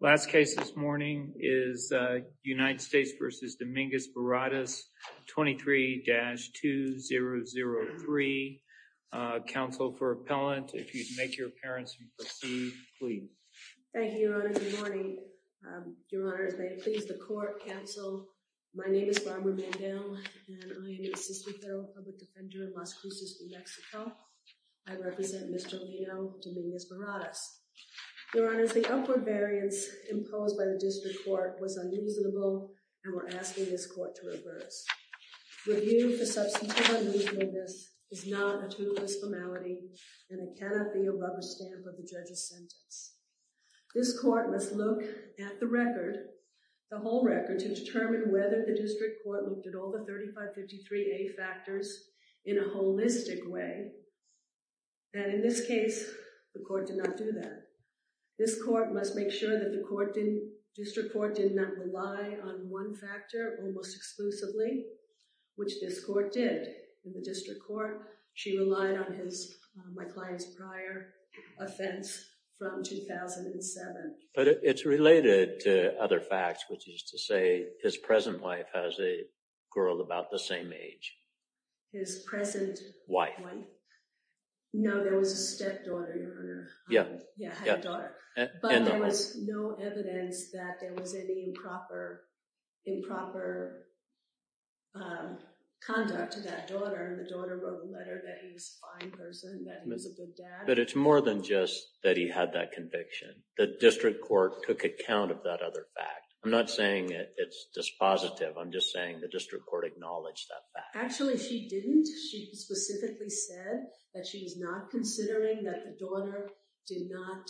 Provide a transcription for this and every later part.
Last case this morning is United States v. Dominguez-Barradas, 23-2003. Counsel for Appellant, if you'd make your appearance and proceed, please. Thank you, Your Honor. Good morning. Your Honor, as may it please the Court, Counsel, my name is Barbara Mandel, and I am an Assistant Federal Public Defender in Las Cruces, New Mexico. I represent Mr. Leo Dominguez-Barradas. Your Honor, the upward variance imposed by the District Court was unreasonable, and we're asking this Court to reverse. Review for Substantial Unreasonableness is not a total disformality, and it cannot be a rubber stamp of the judge's sentence. This Court must look at the record, the whole record, to determine whether the District Court looked at all the 3553A factors in a holistic way. And in this case, the Court did not do that. This Court must make sure that the District Court did not rely on one factor almost exclusively, which this Court did in the District Court. She relied on my client's prior offense from 2007. But it's related to other facts, which is to say his present wife has a girl about the same age. His present wife. No, there was a stepdaughter, Your Honor. Yeah. Yeah, had a daughter. But there was no evidence that there was any improper conduct to that daughter. The daughter wrote a letter that he was a fine person, that he was a good dad. But it's more than just that he had that conviction. The District Court took account of that other fact. I'm not saying it's dispositive. I'm just saying the District Court acknowledged that fact. Actually, she didn't. She specifically said that she was not considering that the daughter did not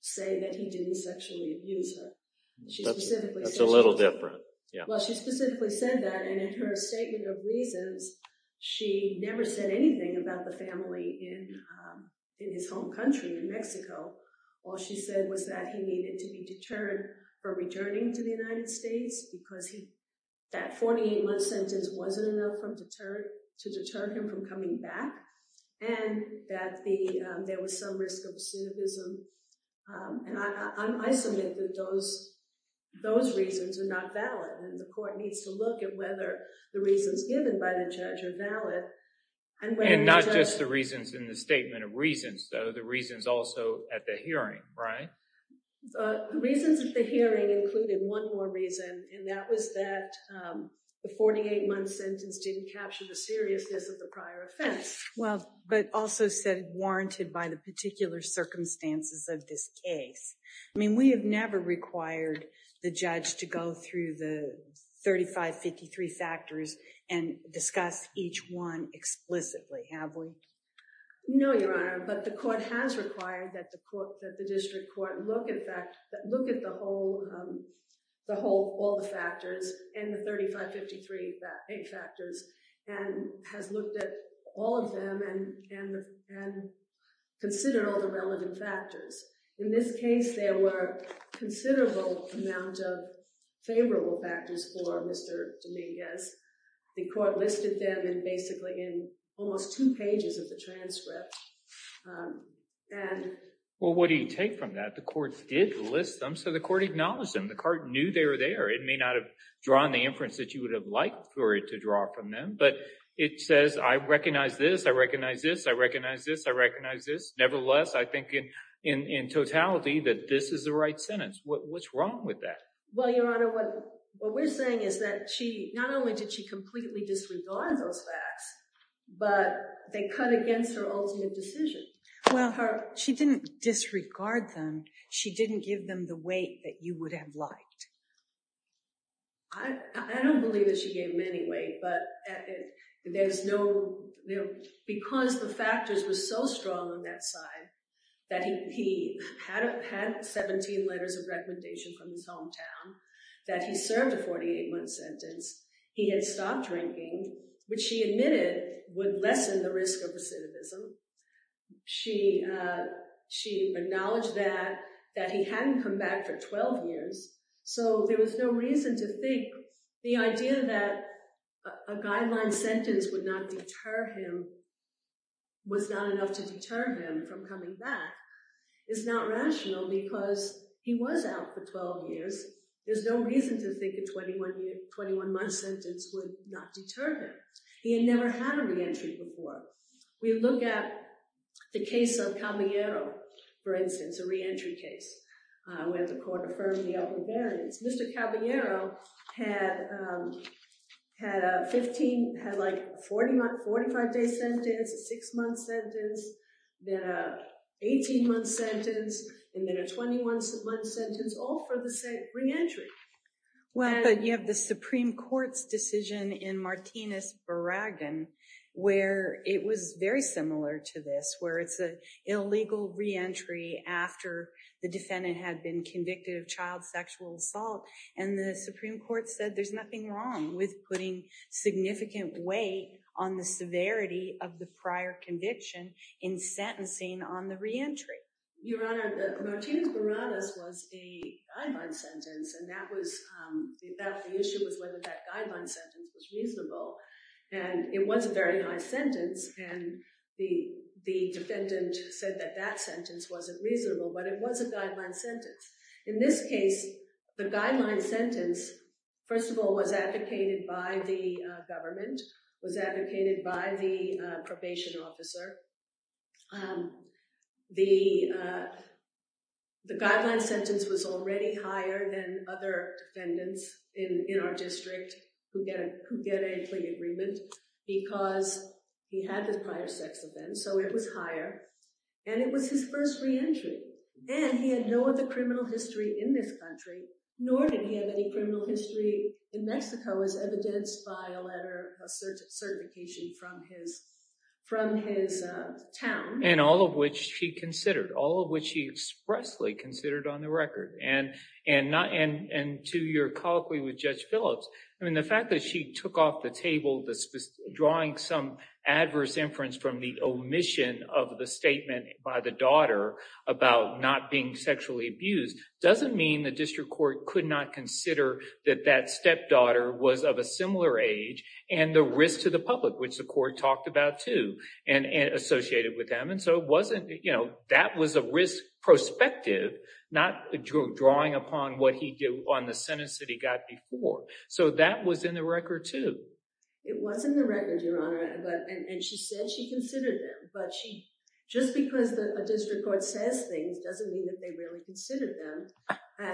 say that he didn't sexually abuse her. That's a little different. Well, she specifically said that. And in her statement of reasons, she never said anything about the family in his home country, in Mexico. All she said was that he needed to be deterred from returning to the United States because that 48-month sentence wasn't enough to deter him from coming back. And that there was some risk of cynicism. And I submit that those reasons are not valid. And the court needs to look at whether the reasons given by the judge are valid. And not just the reasons in the statement of reasons, though. But the reasons also at the hearing, right? The reasons at the hearing included one more reason. And that was that the 48-month sentence didn't capture the seriousness of the prior offense. Well, but also said warranted by the particular circumstances of this case. I mean, we have never required the judge to go through the 3553 factors and discuss each one explicitly, have we? No, Your Honor. But the court has required that the district court look at the whole, all the factors and the 3553 factors and has looked at all of them and considered all the relevant factors. In this case, there were a considerable amount of favorable factors for Mr. Dominguez. The court listed them basically in almost two pages of the transcript. Well, what do you take from that? The court did list them, so the court acknowledged them. The court knew they were there. It may not have drawn the inference that you would have liked for it to draw from them. But it says, I recognize this, I recognize this, I recognize this, I recognize this. Nevertheless, I think in totality that this is the right sentence. What's wrong with that? Well, Your Honor, what we're saying is that she, not only did she completely disregard those facts, but they cut against her ultimate decision. Well, she didn't disregard them. She didn't give them the weight that you would have liked. I don't believe that she gave them any weight, but there's no, because the factors were so strong on that side that he had 17 letters of recommendation from his hometown, that he served a 48-month sentence, he had stopped drinking, which she admitted would lessen the risk of recidivism. She acknowledged that, that he hadn't come back for 12 years, so there was no reason to think the idea that a guideline sentence would not deter him was not enough to deter him from coming back. It's not rational because he was out for 12 years. There's no reason to think a 21-month sentence would not deter him. He had never had a reentry before. We look at the case of Caballero, for instance, a reentry case, where the court affirmed the upper variance. Mr. Caballero had a 45-day sentence, a 6-month sentence, then an 18-month sentence, and then a 21-month sentence, all for the same reentry. But you have the Supreme Court's decision in Martinez-Boraghan, where it was very similar to this, where it's an illegal reentry after the defendant had been convicted of child sexual assault, and the Supreme Court said there's nothing wrong with putting significant weight on the severity of the prior conviction in sentencing on the reentry. Your Honor, Martinez-Boraghan was a guideline sentence, and the issue was whether that guideline sentence was reasonable. It was a very high sentence, and the defendant said that that sentence wasn't reasonable, but it was a guideline sentence. In this case, the guideline sentence, first of all, was advocated by the government, was advocated by the probation officer. The guideline sentence was already higher than other defendants in our district who get a clean agreement because he had his prior sex with them, so it was higher, and it was his first reentry. And he had no other criminal history in this country, nor did he have any criminal history in Mexico, as evidenced by a letter of certification from his town. And all of which he considered, all of which he expressly considered on the record. And to your colloquy with Judge Phillips, the fact that she took off the table drawing some adverse inference from the omission of the statement by the daughter about not being sexually abused doesn't mean the district court could not consider that that stepdaughter was of a similar age and the risk to the public, which the court talked about too and associated with them. And so that was a risk perspective, not drawing upon what he did on the sentence that he got before. So that was in the record too. It was in the record, Your Honor. And she said she considered them, but just because a district court says things doesn't mean that they really considered them.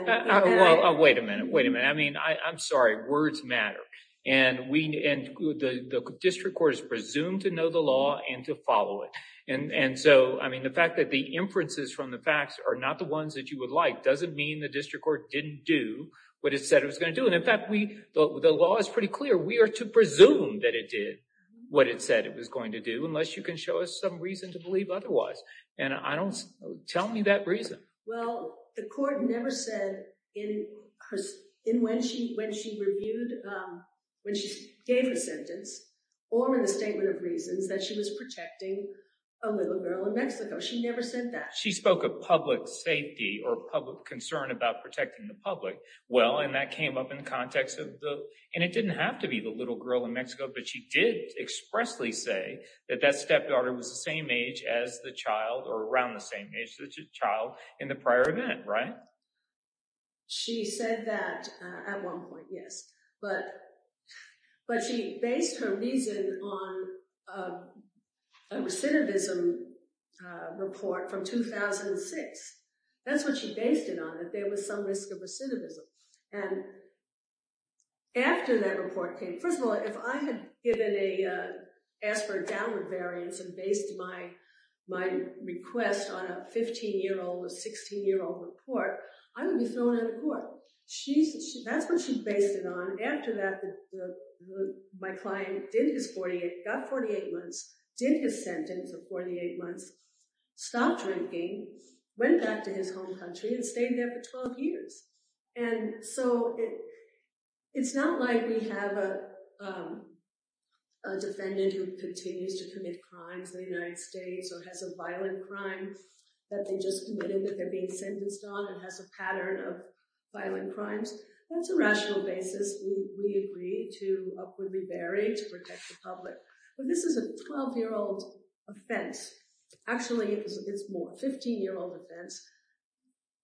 Well, wait a minute, wait a minute. I mean, I'm sorry, words matter. And the district court is presumed to know the law and to follow it. And so, I mean, the fact that the inferences from the facts are not the ones that you would like doesn't mean the district court didn't do what it said it was going to do. And in fact, the law is pretty clear. We are to presume that it did what it said it was going to do unless you can show us some reason to believe otherwise. And tell me that reason. Well, the court never said when she reviewed, when she gave her sentence or in the statement of reasons that she was protecting a little girl in Mexico. She never said that. She spoke of public safety or public concern about protecting the public. Well, and that came up in the context of the, and it didn't have to be the little girl in Mexico, but she did expressly say that that stepdaughter was the same age as the child or around the same age as the child in the prior event, right? She said that at one point, yes. But she based her reason on a recidivism report from 2006. That's what she based it on, that there was some risk of recidivism. And after that report came, first of all, if I had given a, asked for a downward variance and based my request on a 15-year-old or 16-year-old report, I would be thrown out of court. That's what she based it on. After that, my client did his 48, got 48 months, did his sentence of 48 months, stopped drinking, went back to his home country and stayed there for 12 years. And so it's not like we have a defendant who continues to commit crimes in the United States or has a violent crime that they just committed that they're being sentenced on and has a pattern of violent crimes. That's a rational basis. We agree to upwardly vary to protect the public. But this is a 12-year-old offense. Actually, it's more, 15-year-old offense.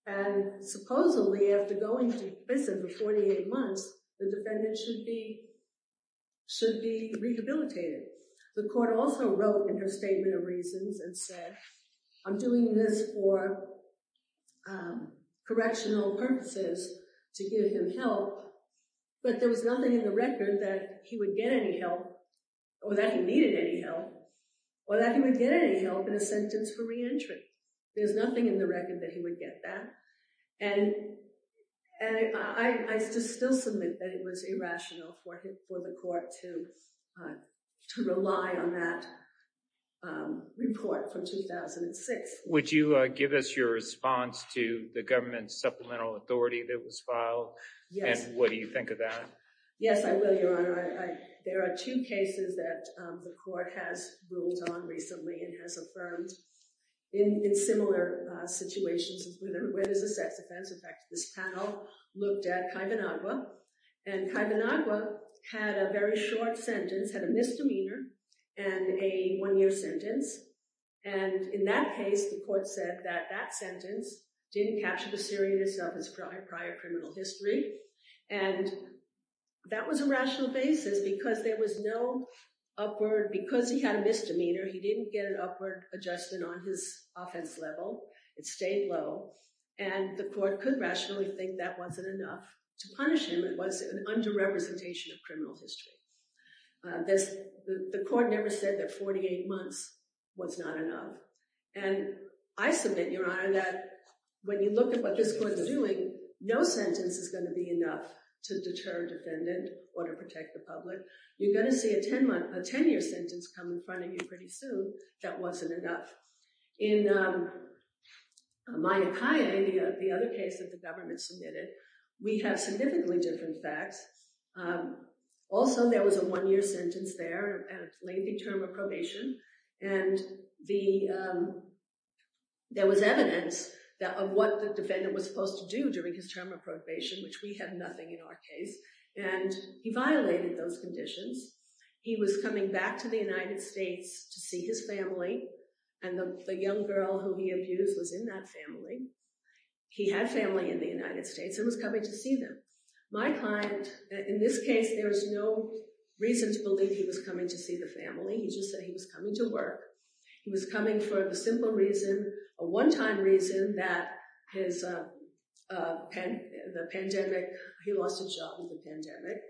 And supposedly, after going to prison for 48 months, the defendant should be rehabilitated. The court also wrote in her statement of reasons and said, I'm doing this for correctional purposes to give him help. But there was nothing in the record that he would get any help or that he needed any help or that he would get any help in his sentence for reentry. There's nothing in the record that he would get that. And I still submit that it was irrational for the court to rely on that report from 2006. Would you give us your response to the government supplemental authority that was filed? Yes. And what do you think of that? Yes, I will, Your Honor. There are two cases that the court has ruled on recently and has affirmed in similar situations where there's a sex offense. In fact, this panel looked at Kaivonagwa. And Kaivonagwa had a very short sentence, had a misdemeanor and a one-year sentence. And in that case, the court said that that sentence didn't capture the seriousness of his prior criminal history. And that was a rational basis because there was no upward – because he had a misdemeanor, he didn't get an upward adjustment on his offense level. It stayed low. And the court could rationally think that wasn't enough to punish him. It was an under-representation of criminal history. The court never said that 48 months was not enough. And I submit, Your Honor, that when you look at what this court is doing, no sentence is going to be enough to deter a defendant or to protect the public. You're going to see a 10-year sentence come in front of you pretty soon. That wasn't enough. In Maia Kaye, the other case that the government submitted, we have significantly different facts. Also, there was a one-year sentence there and a lengthy term of probation. And there was evidence of what the defendant was supposed to do during his term of probation, which we had nothing in our case. And he violated those conditions. He was coming back to the United States to see his family. And the young girl who he abused was in that family. He had family in the United States and was coming to see them. My client, in this case, there was no reason to believe he was coming to see the family. He just said he was coming to work. He was coming for the simple reason, a one-time reason that his pandemic, he lost his job with the pandemic.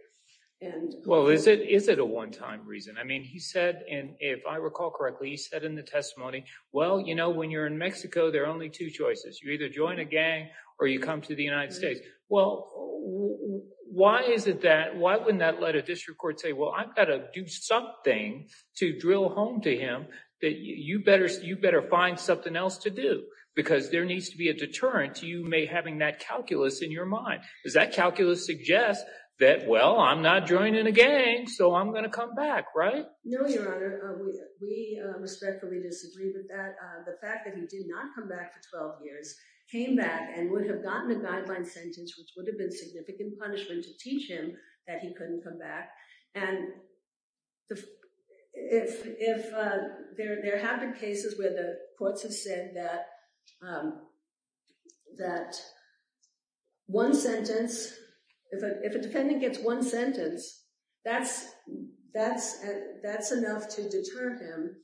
Well, is it a one-time reason? I mean, he said, and if I recall correctly, he said in the testimony, well, you know, when you're in Mexico, there are only two choices. You either join a gang or you come to the United States. Well, why is it that, why wouldn't that let a district court say, well, I've got to do something to drill home to him, that you better find something else to do, because there needs to be a deterrent to you having that calculus in your mind. Does that calculus suggest that, well, I'm not joining a gang, so I'm going to come back, right? No, Your Honor. We respectfully disagree with that. The fact that he did not come back for 12 years, came back and would have gotten a guideline sentence, which would have been significant punishment to teach him that he couldn't come back. And if there have been cases where the courts have said that one sentence, if a defendant gets one sentence, that's enough to deter him,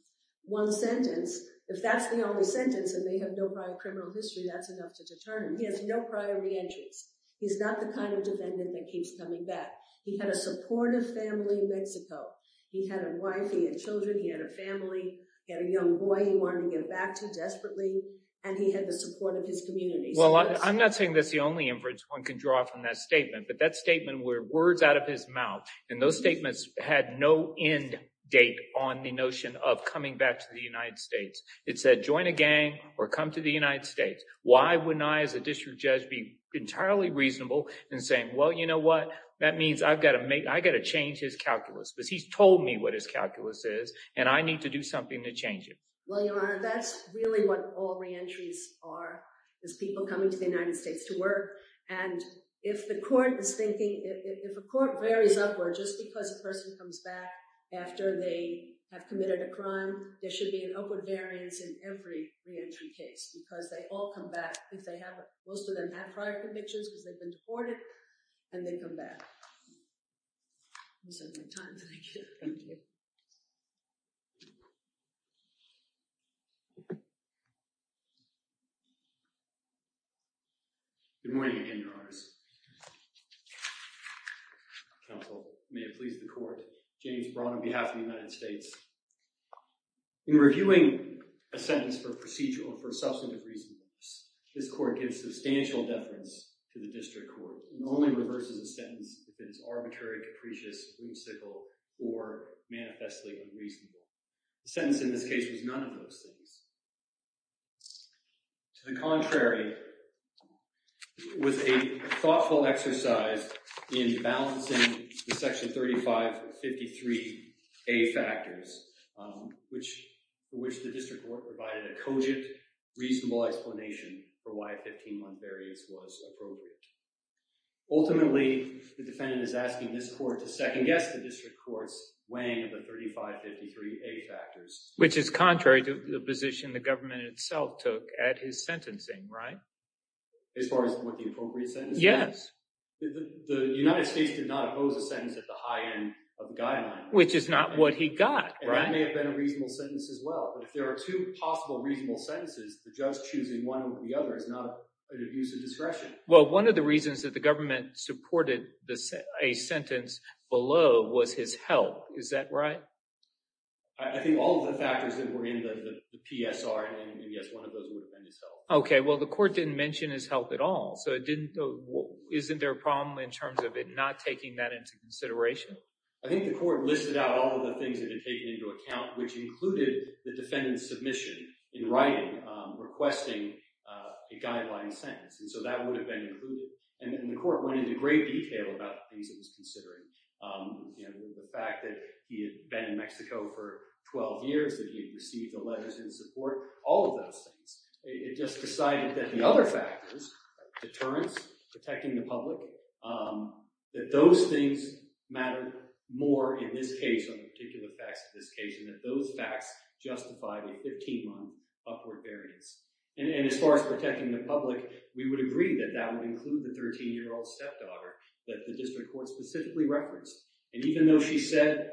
one sentence. If that's the only sentence and they have no prior criminal history, that's enough to deter him. He has no prior reentries. He's not the kind of defendant that keeps coming back. He had a supportive family in Mexico. He had a wife, he had children, he had a family, he had a young boy he wanted to get back to desperately, and he had the support of his community. Well, I'm not saying that's the only inference one can draw from that statement, but that statement were words out of his mouth. And those statements had no end date on the notion of coming back to the United States. It said, join a gang or come to the United States. Why wouldn't I, as a district judge, be entirely reasonable in saying, well, you know what, that means I've got to make, I've got to change his calculus because he's told me what his calculus is and I need to do something to change it. Well, Your Honor, that's really what all reentries are, is people coming to the United States to work. And if the court is thinking, if a court varies upward, just because a person comes back after they have committed a crime, there should be an upward variance in every reentry case because they all come back if they have, most of them have prior convictions because they've been deported and they come back. Good morning again, Your Honors. Counsel, may it please the court. James Braun on behalf of the United States. In reviewing a sentence for procedural, for substantive reasonableness, this court gives substantial deference to the district court and only reverses a sentence if it is arbitrary, capricious, whimsical, or manifestly unreasonable. The sentence in this case was none of those things. To the contrary, it was a thoughtful exercise in balancing the Section 3553A factors, for which the district court provided a cogent, reasonable explanation for why a 15-month variance was appropriate. Ultimately, the defendant is asking this court to second-guess the district court's weighing of the 3553A factors. Which is contrary to the position the government itself took at his sentencing, right? As far as what the appropriate sentence was? Yes. The United States did not oppose a sentence at the high end of the guideline. Which is not what he got, right? And that may have been a reasonable sentence as well. But if there are two possible reasonable sentences, the judge choosing one over the other is not an abuse of discretion. Well, one of the reasons that the government supported a sentence below was his health. Is that right? I think all of the factors that were in the PSR, and yes, one of those would have been his health. Okay. Well, the court didn't mention his health at all, so isn't there a problem in terms of it not taking that into consideration? I think the court listed out all of the things it had taken into account, which included the defendant's submission in writing, requesting a guideline sentence. And so that would have been included. And the court went into great detail about the things it was considering. You know, the fact that he had been in Mexico for 12 years, that he had received the letters in support. All of those things. It just decided that the other factors, deterrence, protecting the public, that those things mattered more in this case, on the particular facts of this case, and that those facts justified a 15-month upward variance. And as far as protecting the public, we would agree that that would include the 13-year-old stepdaughter that the district court specifically referenced. And even though she said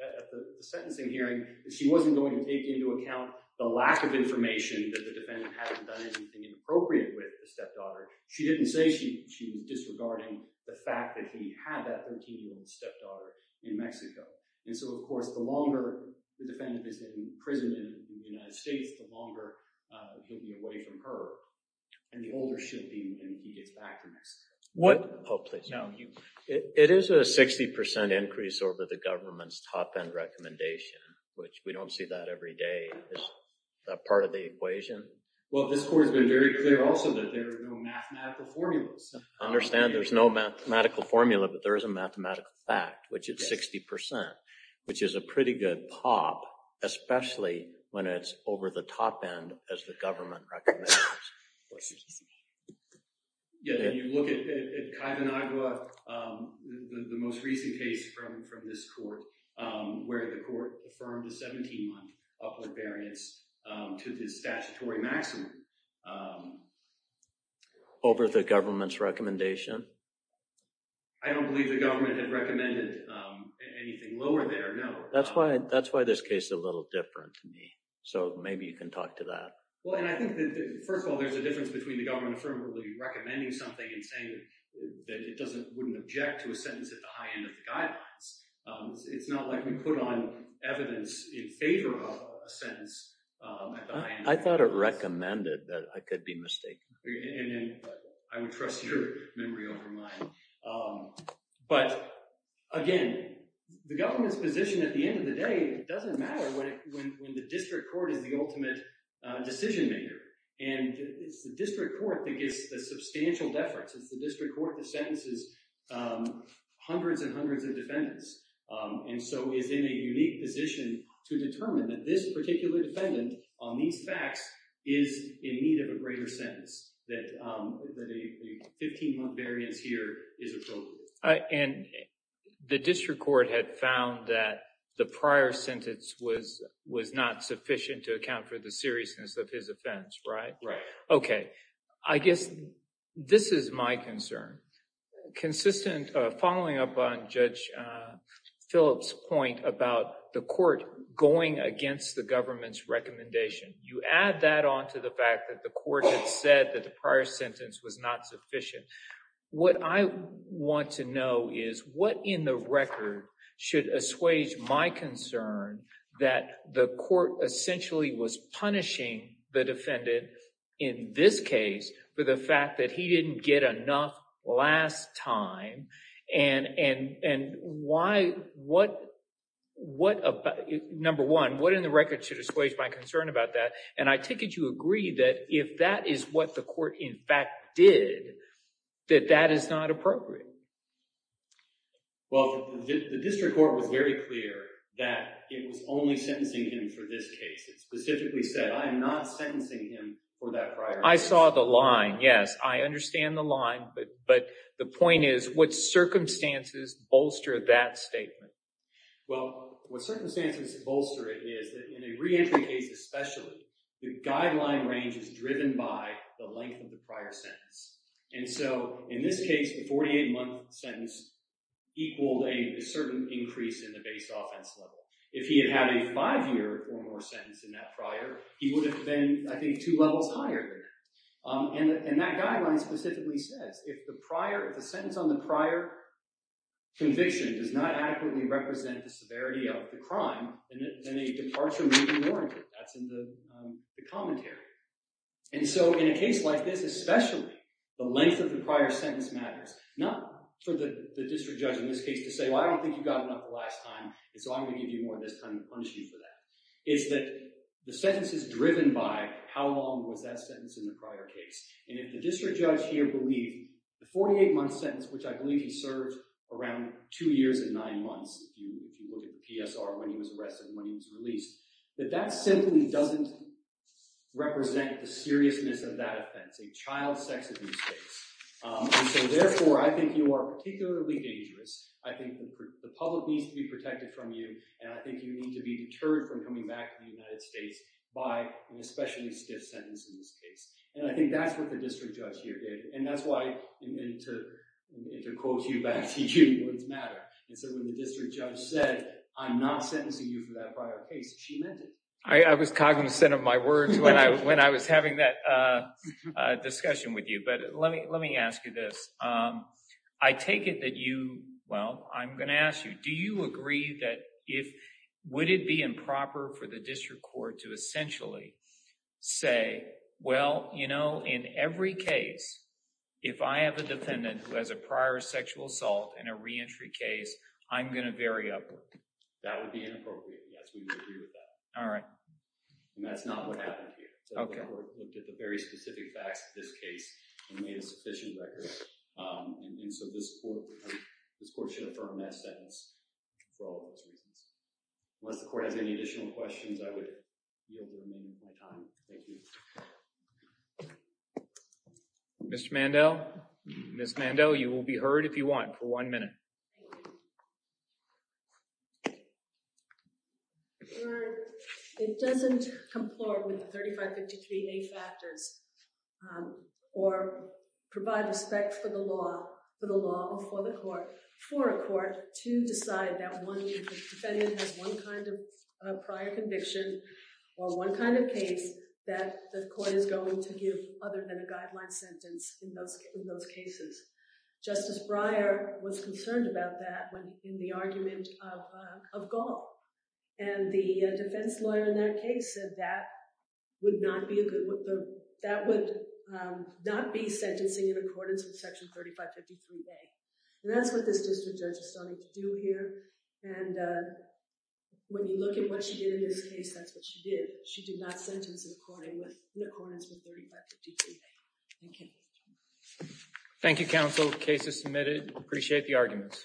at the sentencing hearing that she wasn't going to take into account the lack of information that the defendant hadn't done anything inappropriate with the stepdaughter, she didn't say she was disregarding the fact that he had that 13-year-old stepdaughter in Mexico. And so, of course, the longer the defendant is in prison in the United States, the longer he'll be away from her. And the older she'll be, and he gets back to Mexico. Oh, please. It is a 60% increase over the government's top-end recommendation, Is that part of the equation? Well, this court has been very clear also that there are no mathematical formulas. I understand there's no mathematical formula, but there is a mathematical fact, which is 60%, which is a pretty good pop, especially when it's over the top-end as the government recommends. Yeah, and you look at the most recent case from this court, where the court affirmed a 17-month upward variance to the statutory maximum. Over the government's recommendation? I don't believe the government had recommended anything lower there, no. That's why this case is a little different to me, so maybe you can talk to that. Well, and I think that, first of all, there's a difference between the government affirmatively recommending something and saying that it wouldn't object to a sentence at the high end of the guidelines. It's not like we put on evidence in favor of a sentence at the high end of the guidelines. I thought it recommended that I could be mistaken. And I would trust your memory over mine. But, again, the government's position at the end of the day doesn't matter when the district court is the ultimate decision-maker. And it's the district court that gives the substantial deference. It's the district court that sentences hundreds and hundreds of defendants and so is in a unique position to determine that this particular defendant, on these facts, is in need of a greater sentence, that a 15-month variance here is appropriate. And the district court had found that the prior sentence was not sufficient to account for the seriousness of his offense, right? Right. Okay. I guess this is my concern. Consistent, following up on Judge Phillips' point about the court going against the government's recommendation, you add that on to the fact that the court had said that the prior sentence was not sufficient. What I want to know is what in the record should assuage my concern that the court essentially was punishing the defendant in this case for the fact that he didn't get enough last time? Number one, what in the record should assuage my concern about that? And I take it you agree that if that is what the court, in fact, did, that that is not appropriate. Well, the district court was very clear that it was only sentencing him for this case. It specifically said, I am not sentencing him for that prior sentence. I saw the line, yes. I understand the line, but the point is, what circumstances bolster that statement? Well, what circumstances bolster it is that in a reentry case especially, the guideline range is driven by the length of the prior sentence. And so in this case, the 48-month sentence equaled a certain increase in the base offense level. If he had had a five-year or more sentence in that prior, he would have been, I think, two levels higher there. And that guideline specifically says, if the sentence on the prior conviction does not adequately represent the severity of the crime, then a departure may be warranted. That's in the commentary. And so in a case like this, especially, the length of the prior sentence matters. Not for the district judge in this case to say, well, I don't think you got enough the last time, and so I'm going to give you more this time and punish you for that. It's that the sentence is driven by how long was that sentence in the prior case. And if the district judge here believed the 48-month sentence, which I believe he served around two years and nine months, if you look at the PSR when he was arrested and when he was released, that that simply doesn't represent the seriousness of that offense, a child sex abuse case. And so therefore, I think you are particularly dangerous. I think the public needs to be protected from you, and I think you need to be deterred from coming back to the United States by an especially stiff sentence in this case. And I think that's what the district judge here did. And that's why, and to quote you back to Judy Woods Matter, when the district judge said, I'm not sentencing you for that prior case, she meant it. I was cognizant of my words when I was having that discussion with you. But let me ask you this. I take it that you, well, I'm going to ask you, do you agree that if, would it be improper for the district court to essentially say, well, you know, in every case, if I have a defendant who has a prior sexual assault and a reentry case, I'm going to vary up. That would be inappropriate. Yes, we would agree with that. All right. And that's not what happened here. The court looked at the very specific facts of this case and made a sufficient record. And so this court should affirm that sentence for all of those reasons. Unless the court has any additional questions, I would be able to remain with my time. Thank you. Mr. Mandel. Ms. Mandel, you will be heard if you want for one minute. It doesn't complore with the 3553A factors or provide respect for the law, for the law or for the court, for a court to decide that one defendant has one kind of prior conviction or one kind of case that the court is going to give other than a guideline sentence in those cases. Justice Breyer was concerned about that in the argument of Gaul. And the defense lawyer in that case said that would not be a good... that would not be sentencing in accordance with Section 3553A. And that's what this district judge is starting to do here. And when you look at what she did in this case, that's what she did. She did not sentence in accordance with 3553A. Thank you. Thank you, counsel. The case is submitted. Appreciate the arguments.